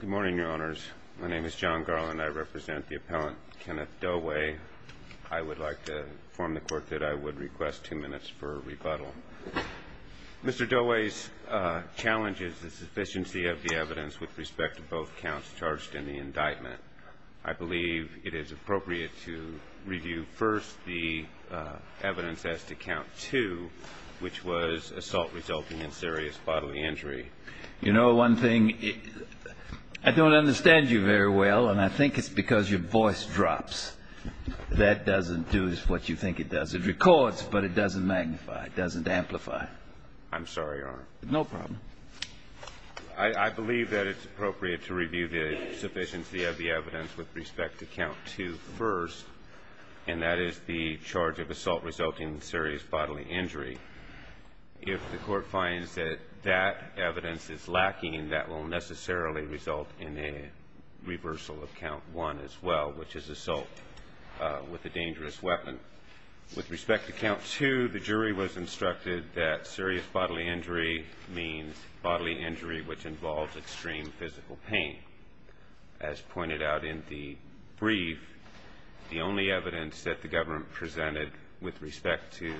Good morning, your honors. My name is John Garland. I represent the appellant Kenneth Dowai. I would like to inform the court that I would request two minutes for rebuttal. Mr. Dowai's challenge is the sufficiency of the evidence with respect to both counts charged in the indictment. I believe it is appropriate to review first the evidence as to count two, which was assault resulting in serious bodily injury. You know, one thing, I don't understand you very well, and I think it's because your voice drops. That doesn't do what you think it does. It records, but it doesn't magnify. It doesn't amplify. I'm sorry, your honor. No problem. I believe that it's appropriate to review the sufficiency of the evidence with respect to count two first, and that is the charge of assault resulting in serious bodily injury. If the court finds that that evidence is lacking, that will necessarily result in a reversal of count one as well, which is assault with a dangerous weapon. With respect to count two, the jury was instructed that serious bodily injury means bodily injury which involves extreme physical pain. As pointed out in the brief, the only evidence that the government presented with respect to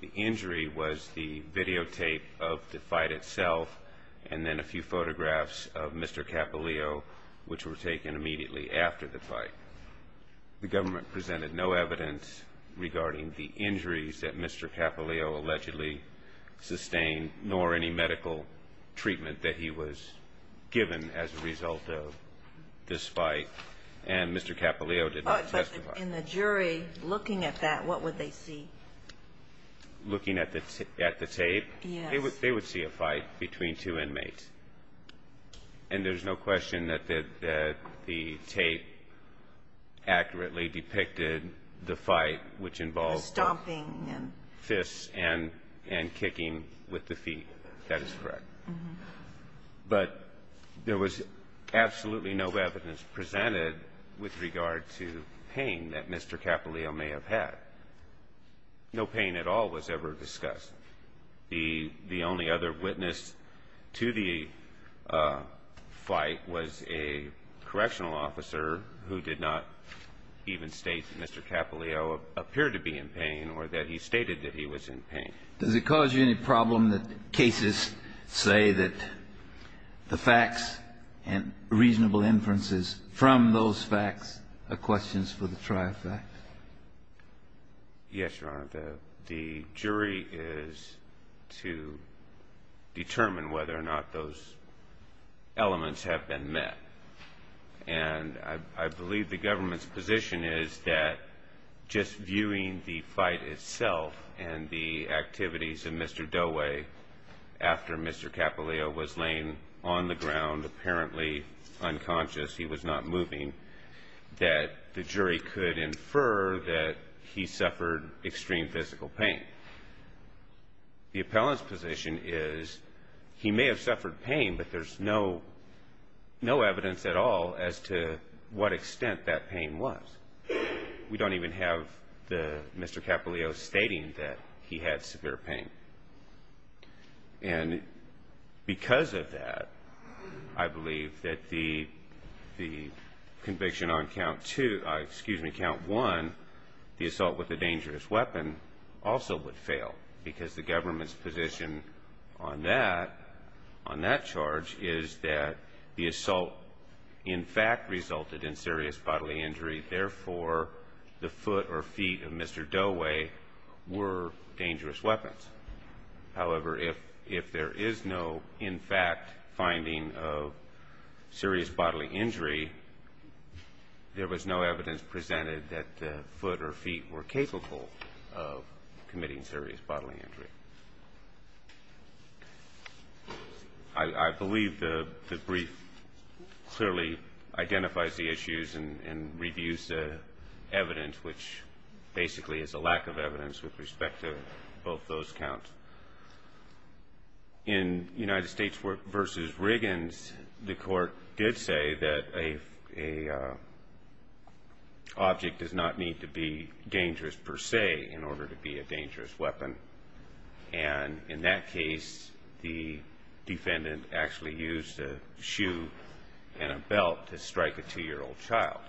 the injury was the videotape of the fight itself and then a few photographs of Mr. Capilio, which were taken immediately after the fight. The government presented no evidence regarding the injuries that Mr. Capilio allegedly sustained, nor any medical treatment that he was given as a result of this fight. And Mr. Capilio did not testify. But in the jury, looking at that, what would they see? Looking at the tape? Yes. They would see a fight between two inmates. And there's no question that the tape accurately depicted the fight, which involves the stomping and fists and kicking with the feet. That is correct. But there was absolutely no evidence presented with regard to pain that Mr. Capilio may have had. No pain at all was ever discussed. The only other witness to the fight was a correctional officer who did not even state that Mr. Capilio appeared to be in pain or that he stated that he was in pain. Does it cause you any problem that cases say that the facts and reasonable inferences from those facts are questions for the tri-fact? Yes, Your Honor. The jury is to determine whether or not those elements have been met. And I believe the government's position is that just viewing the fight itself and the activities of Mr. Doeway after Mr. Capilio was laying on the ground, apparently unconscious, he was not moving, that the jury could infer that he suffered extreme physical pain. The appellant's position is he may have suffered pain, but there's no evidence at all as to what extent that pain was. We don't even have Mr. Capilio stating that he had severe pain. And because of that, I believe that the conviction on Count 1, the assault with a dangerous weapon, also would fail because the government's position on that charge is that the assault in fact resulted in serious bodily injury, therefore the foot or feet of Mr. Doeway were dangerous weapons. However, if there is no, in fact, finding of serious bodily injury, there was no evidence presented that the foot or feet were capable of committing serious bodily injury. I believe the brief clearly identifies the issues and reviews the evidence, which basically is a lack of evidence with respect to both those counts. In United States v. Riggins, the court did say that a object does not need to be dangerous per se in order to be a dangerous weapon. And in that case, the defendant actually used a shoe and a belt to strike a 2-year-old child.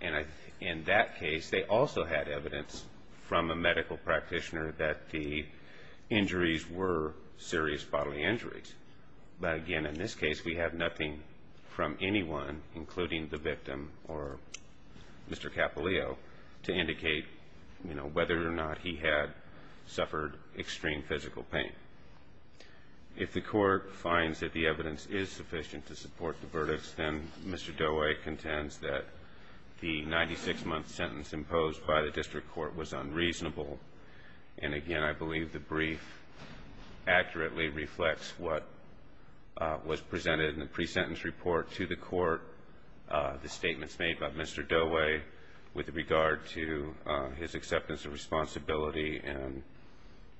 And in that case, they also had evidence from a medical practitioner that the injuries were serious bodily injuries. But again, in this case, we have nothing from anyone, including the victim or Mr. Capilio, to indicate whether or not he had suffered extreme physical pain. If the court finds that the evidence is sufficient to support the verdicts, then Mr. Doeway contends that the 96-month sentence imposed by the district court was unreasonable. And again, I believe the brief accurately reflects what was presented in the pre-sentence report to the court, the statements made by Mr. Doeway with regard to his acceptance of responsibility and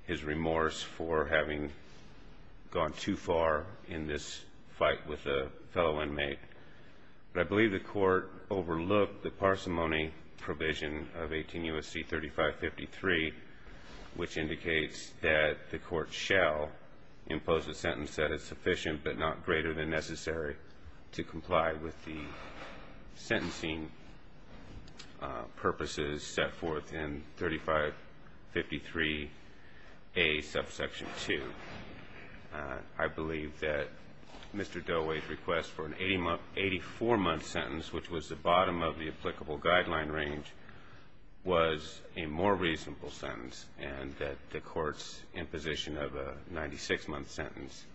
his remorse for having gone too far in this fight with a fellow inmate. But I believe the court overlooked the parsimony provision of 18 U.S.C. 3553, which indicates that the court shall impose a sentence that is sufficient but not greater than necessary to comply with the sentencing purposes set forth in 3553A, subsection 2. I believe that Mr. Doeway's request for an 84-month sentence, which was the bottom of the applicable guideline range, was a more reasonable sentence and that the court's imposition of a 96-month sentence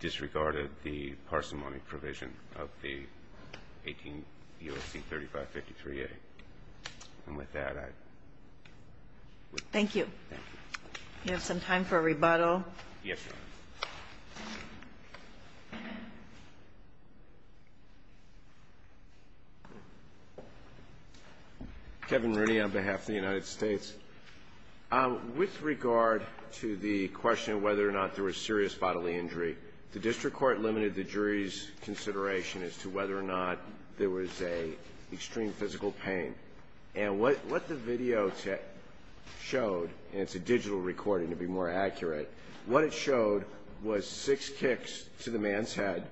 disregarded the parsimony provision of the 18 U.S.C. 3553A. And with that, I... Thank you. Thank you. Do you have some time for a rebuttal? Yes, Your Honor. Kevin Rooney on behalf of the United States. With regard to the question of whether or not there was serious bodily injury, the district court limited the jury's consideration as to whether or not there was a extreme physical pain. And what the video showed, and it's a digital recording to be more accurate, what it showed was six kicks to the man's head.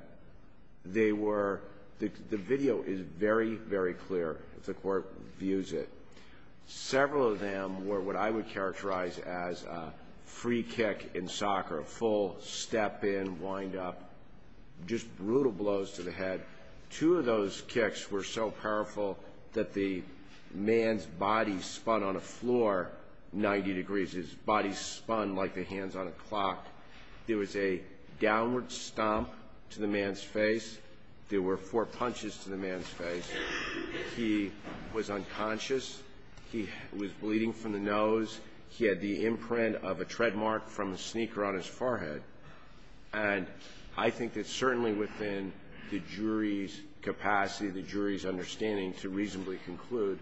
They were... The video is very, very clear if the court views it. Several of them were what I would characterize as a free kick in soccer, a full step in, wind up, just brutal blows to the head. Two of those kicks were so powerful that the man's body spun on a floor 90 degrees. His body spun like the hands on a clock. There was a downward stomp to the man's face. There were four punches to the man's face. He was unconscious. He was bleeding from the nose. He had the imprint of a tread mark from a sneaker on his forehead. And I think that certainly within the jury's capacity, the jury's understanding to reasonably conclude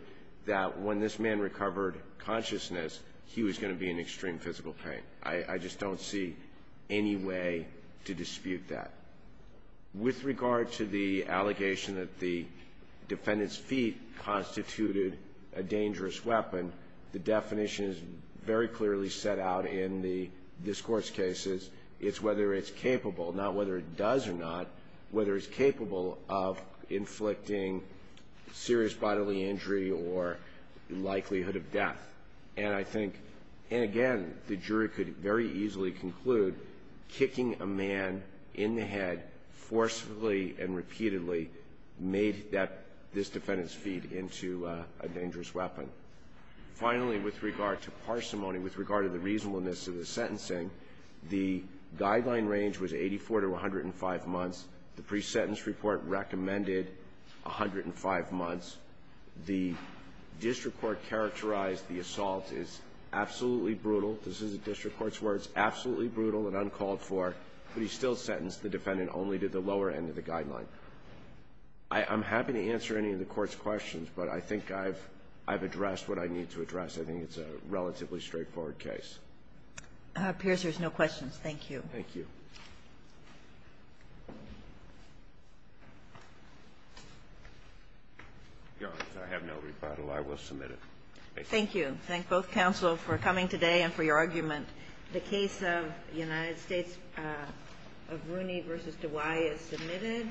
that when this man recovered consciousness, he was going to be in extreme physical pain. I just don't see any way to dispute that. With regard to the allegation that the defendant's feet constituted a dangerous weapon, the definition is very clearly set out in this Court's cases. It's whether it's capable, not whether it does or not, whether it's capable of inflicting serious bodily injury or likelihood of death. And I think, and again, the jury could very easily conclude kicking a man in the head forcefully and repeatedly made that this defendant's feet into a dangerous weapon. Finally, with regard to parsimony, with regard to the reasonableness of the sentencing, the guideline range was 84 to 105 months. The pre-sentence report recommended 105 months. The district court characterized the assault as absolutely brutal. This is a district court's words, absolutely brutal and uncalled for. But he still sentenced the defendant only to the lower end of the guideline. I'm happy to answer any of the Court's questions, but I think I've addressed what I need to address. I think it's a relatively straightforward case. Kagan. Pierce, there's no questions. Thank you. Thank you. Your Honor, I have no rebuttal. I will submit it. Thank you. Thank you. Thank both counsel for coming today and for your argument. The case of United States of Rooney v. DeWaay is submitted.